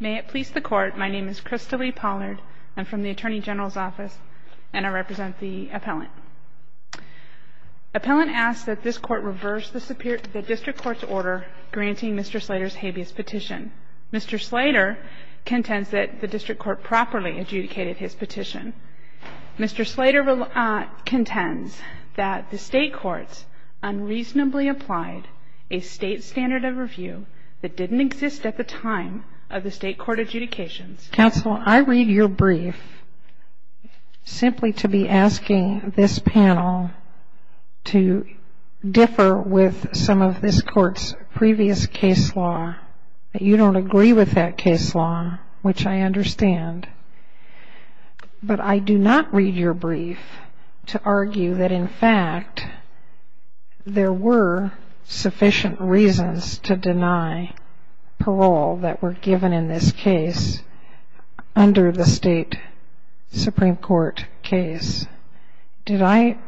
May it please the Court, my name is Krista Lee Pollard, I'm from the Attorney General's Office, and I represent the Appellant. Appellant asks that this Court reverse the District Court's order granting Mr. Slater's habeas petition. Mr. Slater contends that the District Court properly adjudicated his petition. Mr. Slater contends that the State Courts unreasonably applied a State standard of review that didn't exist at the time of the State Court adjudications. Counsel, I read your brief simply to be asking this panel to differ with some of this Court's previous case law. You don't agree with that case law, which I understand. But I do not read your brief to argue that in fact there were sufficient reasons to deny parole that were given in this case under the State Supreme Court case. Did I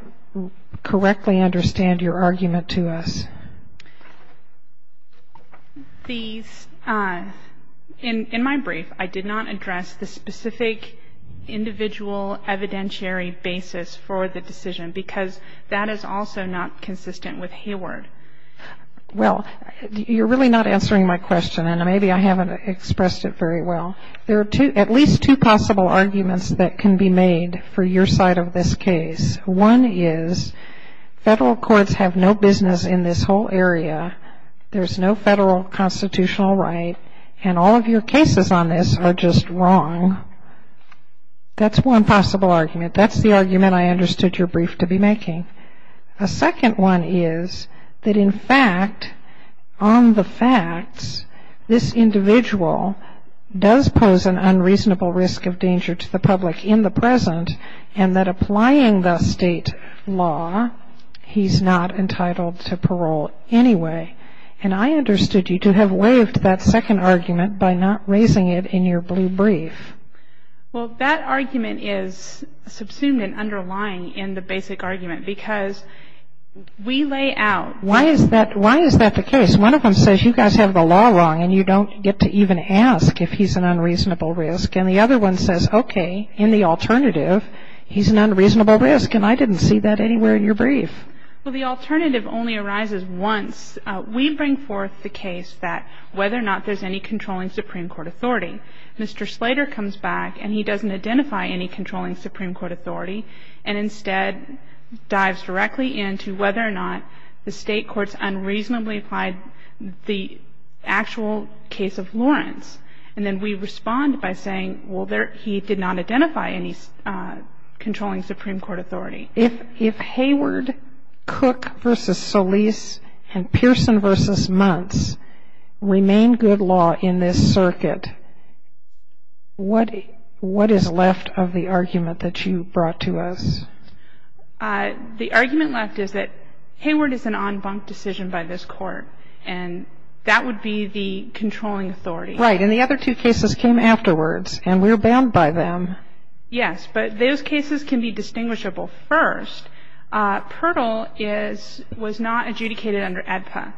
correctly understand your argument to us? In my brief, I did not address the specific individual evidentiary basis for the decision, because that is also not consistent with Hayward. Well, you're really not answering my question, and maybe I haven't expressed it very well. There are at least two possible arguments that can be made for your side of this case. One is Federal courts have no business in this whole area. There's no Federal constitutional right, and all of your cases on this are just wrong. That's one possible argument. That's the argument I understood your brief to be making. A second one is that in fact, on the facts, this individual does pose an unreasonable risk of danger to the public in the present, and that applying the State law, he's not entitled to parole anyway. And I understood you to have waived that second argument by not raising it in your blue brief. Well, that argument is subsumed and underlying in the basic argument, because we lay out. Why is that the case? One of them says you guys have the law wrong, and you don't get to even ask if he's an unreasonable risk. And the other one says, okay, in the alternative, he's an unreasonable risk, and I didn't see that anywhere in your brief. Well, the alternative only arises once. We bring forth the case that whether or not there's any controlling Supreme Court authority. Mr. Slater comes back, and he doesn't identify any controlling Supreme Court authority, and instead dives directly into whether or not the State courts unreasonably applied the actual case of Lawrence. And then we respond by saying, well, he did not identify any controlling Supreme Court authority. If Hayward, Cook v. Solis, and Pearson v. Muntz remain good law in this circuit, what is left of the argument that you brought to us? The argument left is that Hayward is an en banc decision by this Court, and that would be the controlling authority. Right, and the other two cases came afterwards, and we're bound by them. Yes, but those cases can be distinguishable. First, Pirtle was not adjudicated under ADPA.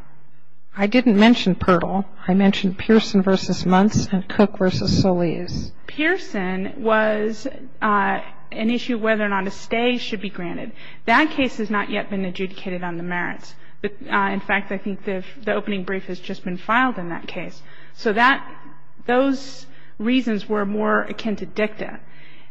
I didn't mention Pirtle. I mentioned Pearson v. Muntz and Cook v. Solis. Pearson was an issue of whether or not a stay should be granted. That case has not yet been adjudicated on the merits. In fact, I think the opening brief has just been filed in that case. So that, those reasons were more akin to dicta.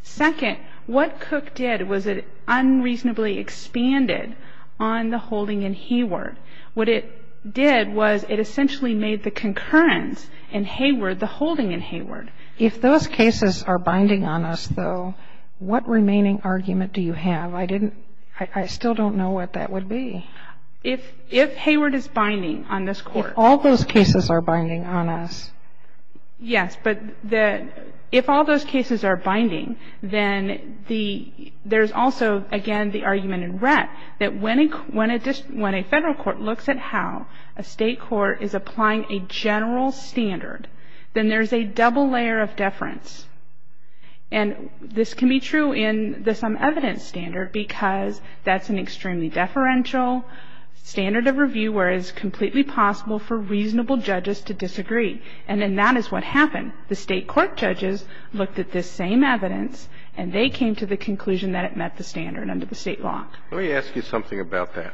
Second, what Cook did was it unreasonably expanded on the holding in Hayward. What it did was it essentially made the concurrence in Hayward the holding in Hayward. If those cases are binding on us, though, what remaining argument do you have? I didn't, I still don't know what that would be. If Hayward is binding on this Court. If all those cases are binding on us. Yes, but if all those cases are binding, then there's also, again, the argument in Rett, that when a federal court looks at how a state court is applying a general standard, then there's a double layer of deference. And this can be true in the sum evidence standard, because that's an extremely deferential standard of review where it is completely possible for reasonable judges to disagree. And then that is what happened. The state court judges looked at this same evidence, and they came to the conclusion that it met the standard under the state law. Let me ask you something about that.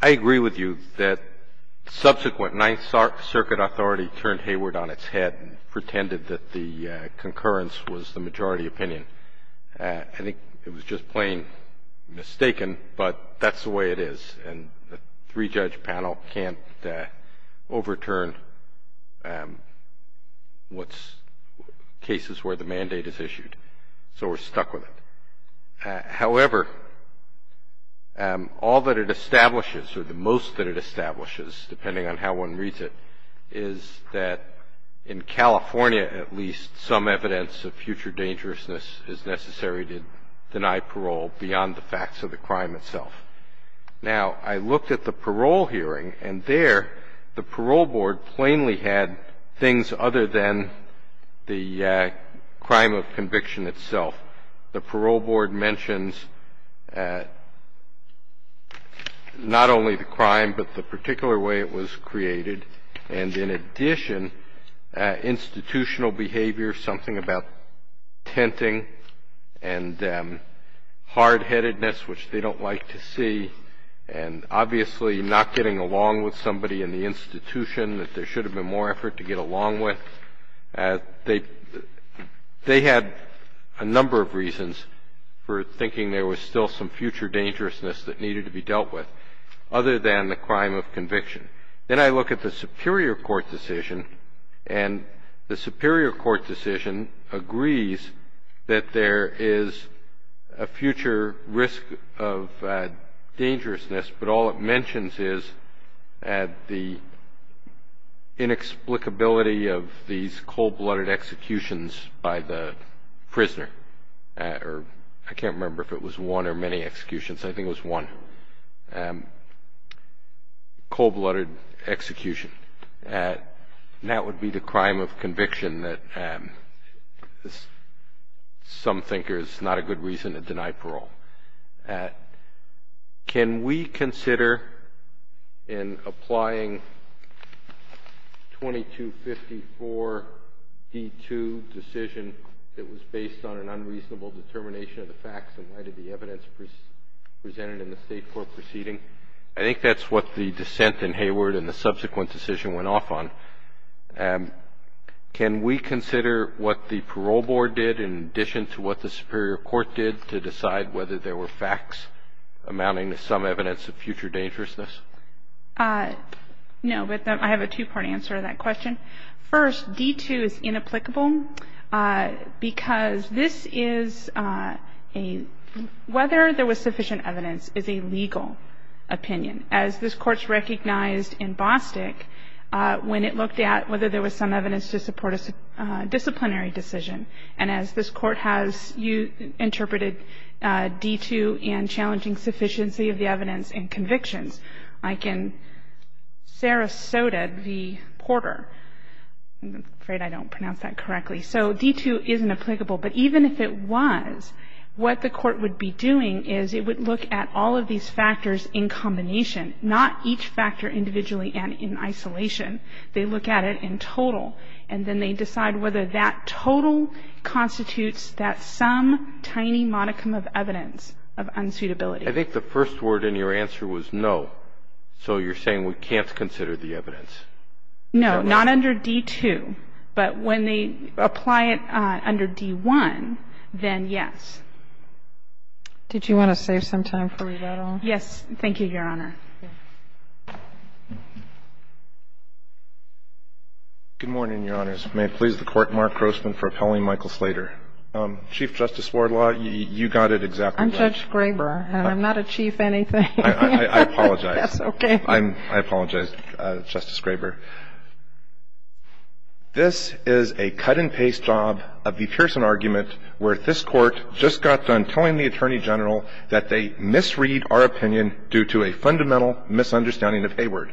I agree with you that subsequent Ninth Circuit authority turned Hayward on its head and pretended that the concurrence was the majority opinion. I think it was just plain mistaken, but that's the way it is. And a three-judge panel can't overturn cases where the mandate is issued. So we're stuck with it. However, all that it establishes, or the most that it establishes, depending on how one reads it, is that in California at least, some evidence of future dangerousness is necessary to deny parole beyond the facts of the crime itself. Now, I looked at the parole hearing, and there the parole board plainly had things other than the crime of conviction itself. The parole board mentions not only the crime, but the particular way it was created, and in addition, institutional behavior, something about tenting and hardheadedness, which they don't like to see, and obviously not getting along with somebody in the institution that there should have been more effort to get along with. They had a number of reasons for thinking there was still some future dangerousness that needed to be dealt with, other than the crime of conviction. Then I look at the superior court decision, and the superior court decision agrees that there is a future risk of dangerousness, but all it mentions is the inexplicability of these cold-blooded executions by the prisoner. I can't remember if it was one or many executions. I think it was one. Cold-blooded execution, and that would be the crime of conviction that some thinkers, not a good reason to deny parole. Can we consider in applying 2254D2 decision that was based on an unreasonable determination of the facts and why did the evidence presented in the state court proceeding? I think that's what the dissent in Hayward and the subsequent decision went off on. Can we consider what the parole board did in addition to what the superior court did to decide whether there were facts amounting to some evidence of future dangerousness? No, but I have a two-part answer to that question. First, D2 is inapplicable because this is a whether there was sufficient evidence is a legal opinion. As this Court's recognized in Bostick, when it looked at whether there was some evidence to support a disciplinary decision, and as this Court has interpreted D2 and challenging sufficiency of the evidence and convictions, like in Sarasota v. Porter. I'm afraid I don't pronounce that correctly. So D2 is inapplicable, but even if it was, what the Court would be doing is it would look at all of these factors in combination, not each factor individually and in isolation. They look at it in total, and then they decide whether that total constitutes that some tiny modicum of evidence of unsuitability. I think the first word in your answer was no. So you're saying we can't consider the evidence. No. Not under D2. But when they apply it under D1, then yes. Did you want to save some time for rebuttal? Yes. Thank you, Your Honor. Good morning, Your Honors. May it please the Court, Mark Grossman for appelling Michael Slater. Chief Justice Wardlaw, you got it exactly right. I'm Judge Graber. And I'm not a chief anything. I apologize. That's okay. I apologize, Justice Graber. This is a cut-and-paste job of the Pearson argument where this Court just got done telling the Attorney General that they misread our opinion due to a fundamental misunderstanding of Hayward.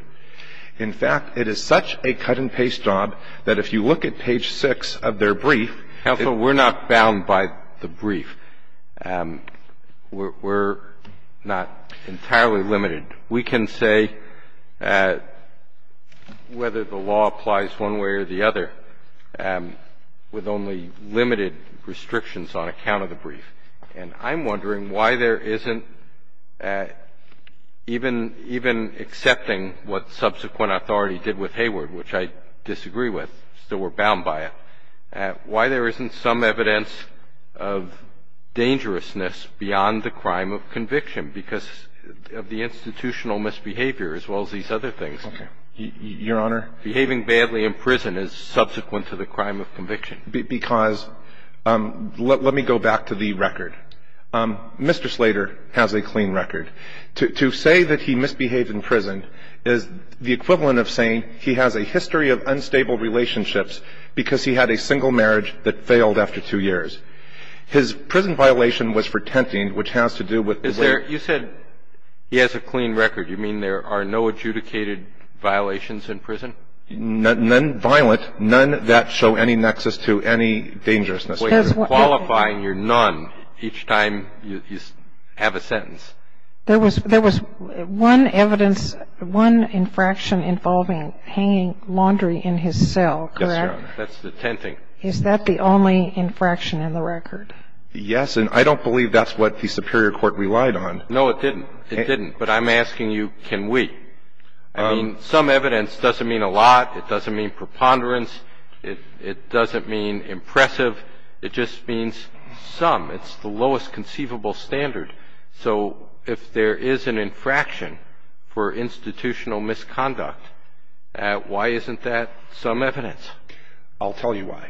In fact, it is such a cut-and-paste job that if you look at page 6 of their brief Counsel, we're not bound by the brief. We're not entirely limited. We can say whether the law applies one way or the other with only limited restrictions on account of the brief. And I'm wondering why there isn't, even accepting what subsequent authority did with Hayward, which I disagree with, still we're bound by it. Why there isn't some evidence of dangerousness beyond the crime of conviction because of the institutional misbehavior as well as these other things. Your Honor? Behaving badly in prison is subsequent to the crime of conviction. Because let me go back to the record. Mr. Slater has a clean record. To say that he misbehaved in prison is the equivalent of saying he has a history of unstable relationships because he had a single marriage that failed after two years. His prison violation was for tenting, which has to do with the way he behaved. You said he has a clean record. You mean there are no adjudicated violations in prison? None violent. None that show any nexus to any dangerousness. You're none each time you have a sentence. There was one evidence, one infraction involving hanging laundry in his cell, correct? Yes, Your Honor. That's the tenting. Is that the only infraction in the record? Yes. And I don't believe that's what the superior court relied on. No, it didn't. It didn't. But I'm asking you, can we? I mean, some evidence doesn't mean a lot. It doesn't mean preponderance. It doesn't mean impressive. It just means some. It's the lowest conceivable standard. So if there is an infraction for institutional misconduct, why isn't that some evidence? I'll tell you why.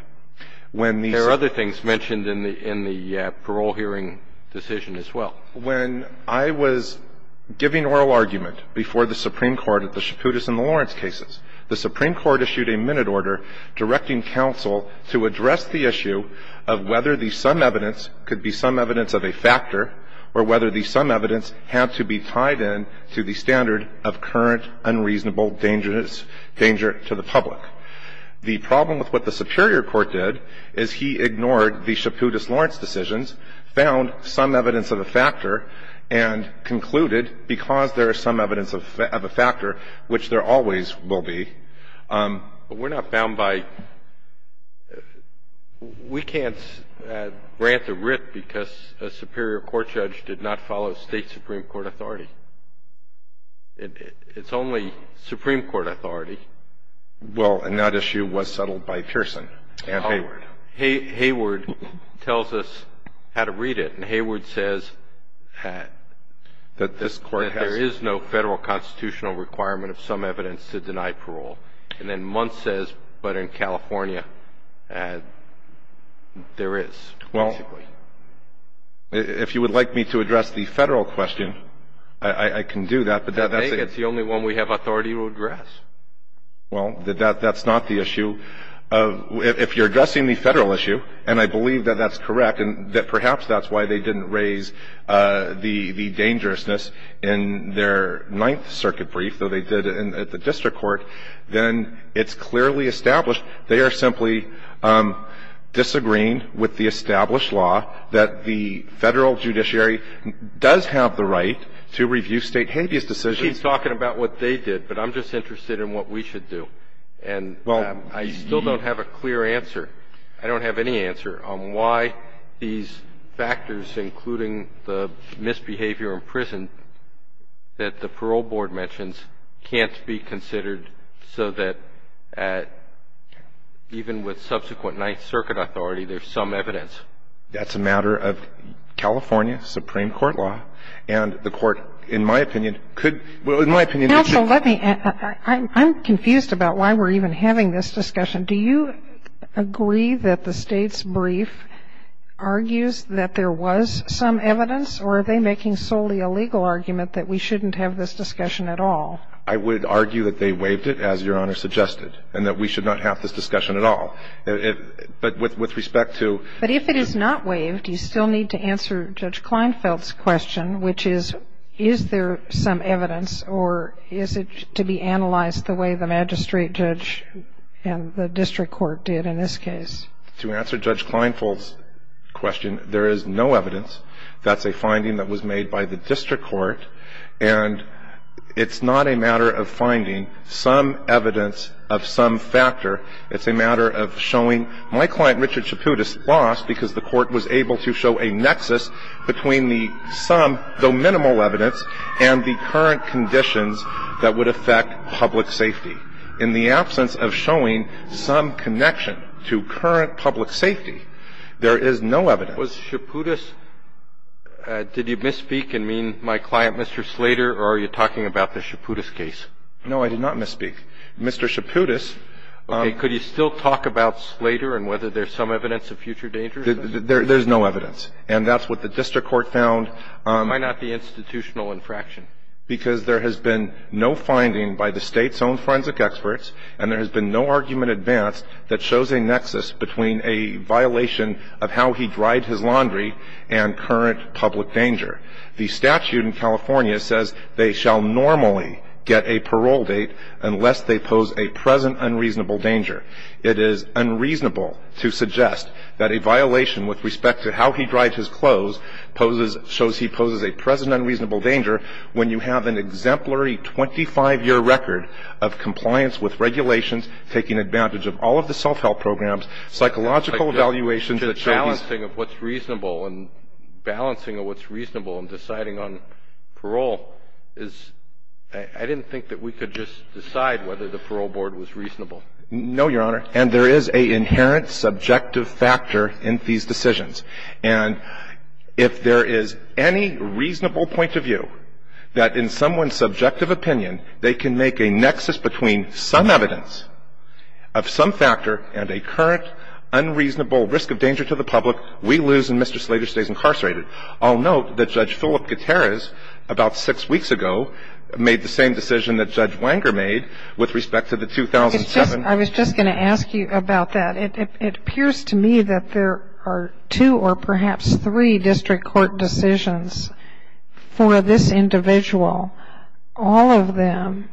When the Supreme Court ---- There are other things mentioned in the parole hearing decision as well. When I was giving oral argument before the Supreme Court at the Chaputis and the Lawrence cases, the Supreme Court issued a minute order directing counsel to address the issue of whether the some evidence could be some evidence of a factor or whether the some evidence had to be tied in to the standard of current unreasonable danger to the public. The problem with what the superior court did is he ignored the Chaputis-Lawrence decisions, found some evidence of a factor, and concluded, because there is some evidence of a factor, which there always will be. But we're not bound by ---- we can't grant a writ because a superior court judge did not follow State Supreme Court authority. It's only Supreme Court authority. Well, and that issue was settled by Pearson and Hayward. Hayward tells us how to read it. And Hayward says that there is no Federal constitutional requirement of some evidence to deny parole. And then Muntz says, but in California, there is, basically. Well, if you would like me to address the Federal question, I can do that. But that's a ---- I think it's the only one we have authority to address. Well, that's not the issue. If you're addressing the Federal issue, and I believe that that's correct, and perhaps that's why they didn't raise the dangerousness in their Ninth Circuit brief, though they did at the district court, then it's clearly established they are simply disagreeing with the established law that the Federal judiciary does have the right to review State habeas decisions. She's talking about what they did, but I'm just interested in what we should do. And I still don't have a clear answer. I don't have any answer on why these factors, including the misbehavior in prison that the parole board mentions, can't be considered so that even with subsequent Ninth Circuit authority, there's some evidence. That's a matter of California Supreme Court law, and the Court, in my opinion, could ---- Counsel, let me ---- I'm confused about why we're even having this discussion. Do you agree that the State's brief argues that there was some evidence, or are they making solely a legal argument that we shouldn't have this discussion at all? I would argue that they waived it, as Your Honor suggested, and that we should not have this discussion at all. But with respect to ---- But if it is not waived, you still need to answer Judge Kleinfeld's question, which is, is there some evidence, or is it to be analyzed the way the magistrate judge and the district court did in this case? To answer Judge Kleinfeld's question, there is no evidence. That's a finding that was made by the district court, and it's not a matter of finding some evidence of some factor. It's a matter of showing my client, Richard Chaputis, lost because the Court was able to show a nexus between the some, though minimal, evidence and the current conditions that would affect public safety. In the absence of showing some connection to current public safety, there is no evidence. Was Chaputis ---- Did you misspeak and mean my client, Mr. Slater, or are you talking about the Chaputis case? No, I did not misspeak. Mr. Chaputis ---- Okay. Could you still talk about Slater and whether there's some evidence of future dangers? There's no evidence. And that's what the district court found. Why not the institutional infraction? Because there has been no finding by the State's own forensic experts, and there has been no argument advanced that shows a nexus between a violation of how he dried his laundry and current public danger. The statute in California says they shall normally get a parole date unless they pose a present unreasonable danger. It is unreasonable to suggest that a violation with respect to how he dried his clothes poses ---- shows he poses a present unreasonable danger when you have an exemplary 25-year record of compliance with regulations, taking advantage of all of the self-help programs, psychological evaluations that show he's ---- But the balancing of what's reasonable and balancing of what's reasonable and deciding on parole is ---- I didn't think that we could just decide whether the parole board was reasonable. No, Your Honor. And there is an inherent subjective factor in these decisions. And if there is any reasonable point of view that in someone's subjective opinion they can make a nexus between some evidence of some factor and a current unreasonable risk of danger to the public, we lose and Mr. Slater stays incarcerated. I'll note that Judge Philip Gutierrez about six weeks ago made the same decision that Judge Wenger made with respect to the 2007 ---- I was just going to ask you about that. It appears to me that there are two or perhaps three district court decisions for this individual, all of them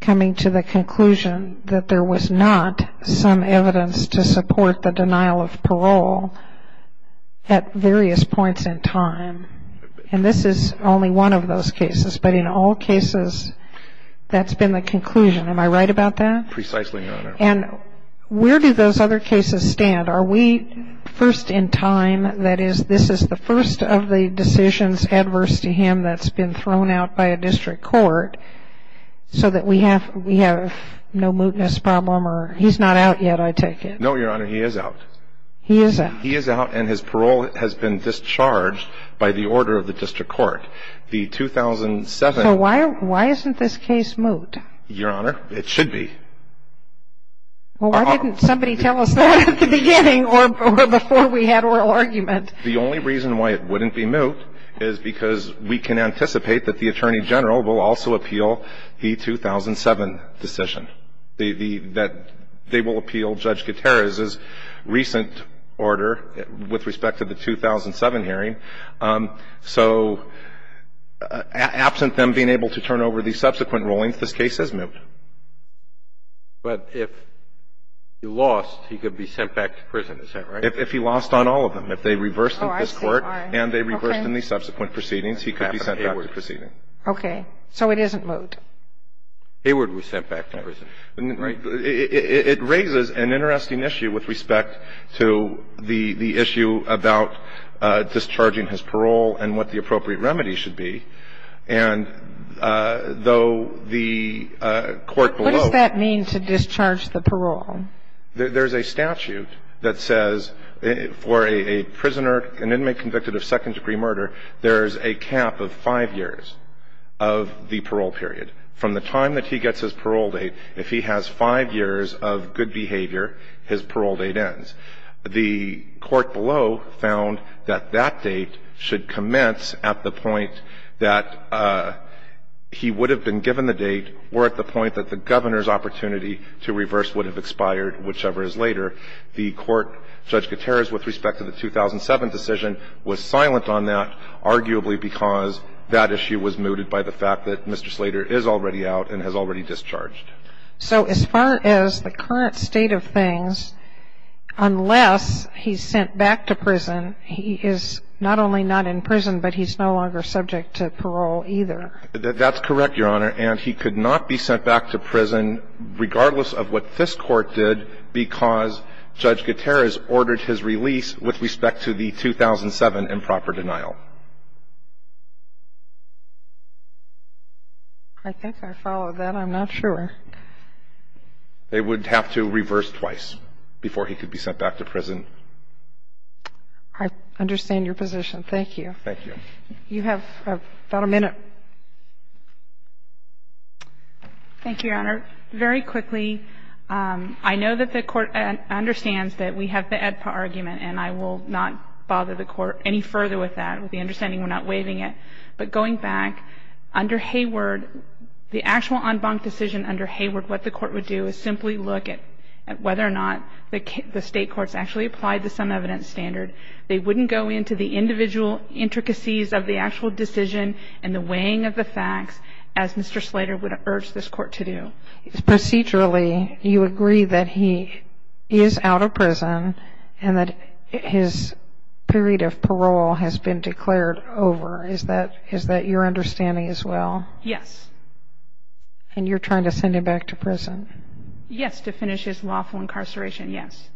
coming to the conclusion that there was not some evidence to support the denial of parole at various points in time. And this is only one of those cases. But in all cases, that's been the conclusion. Precisely, Your Honor. And where do those other cases stand? Are we first in time, that is, this is the first of the decisions adverse to him that's been thrown out by a district court so that we have no mootness problem or he's not out yet, I take it? No, Your Honor. He is out. He is out. He is out and his parole has been discharged by the order of the district court. The 2007 ---- So why isn't this case moot? Your Honor, it should be. Well, why didn't somebody tell us that at the beginning or before we had oral argument? The only reason why it wouldn't be moot is because we can anticipate that the Attorney General will also appeal the 2007 decision, that they will appeal Judge Gutierrez's recent order with respect to the 2007 hearing. So absent them being able to turn over the subsequent rulings, this case is moot. But if he lost, he could be sent back to prison, is that right? If he lost on all of them. If they reversed in this Court and they reversed in the subsequent proceedings, he could be sent back to the proceedings. Okay. So it isn't moot. Heyward was sent back to prison. Right. It raises an interesting issue with respect to the issue about discharging his parole and what the appropriate remedy should be. And though the court below What does that mean to discharge the parole? There's a statute that says for a prisoner, an inmate convicted of second-degree murder, there's a cap of five years of the parole period. From the time that he gets his parole date, if he has five years of good behavior, his parole date ends. The court below found that that date should commence at the point that he would have been given the date or at the point that the governor's opportunity to reverse would have expired, whichever is later. The court, Judge Gutierrez, with respect to the 2007 decision, was silent on that, arguably because that issue was mooted by the fact that Mr. Slater is already out and has already discharged. So as far as the current state of things, unless he's sent back to prison, he is not only not in prison, but he's no longer subject to parole either. That's correct, Your Honor. And he could not be sent back to prison, regardless of what this Court did, because Judge Gutierrez ordered his release with respect to the 2007 improper denial. I think I followed that. I'm not sure. They would have to reverse twice before he could be sent back to prison. I understand your position. Thank you. Thank you. You have about a minute. Thank you, Your Honor. Very quickly, I know that the Court understands that we have the AEDPA argument, and I will not bother the Court any further with that. With the understanding we're not waiving it. But going back, under Hayward, the actual en banc decision under Hayward, what the Court would do is simply look at whether or not the state courts actually applied the sum evidence standard. They wouldn't go into the individual intricacies of the actual decision and the weighing of the facts, as Mr. Slater would have urged this Court to do. Procedurally, you agree that he is out of prison and that his period of parole has been declared over. Is that your understanding as well? Yes. And you're trying to send him back to prison? Yes, to finish his lawful incarceration, yes.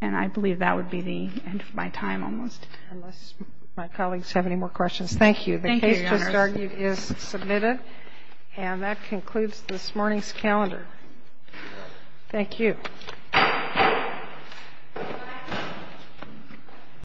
And I believe that would be the end of my time almost. Unless my colleagues have any more questions. Thank you. Thank you, Your Honor. The case just argued is submitted. And that concludes this morning's calendar. Thank you. Good night.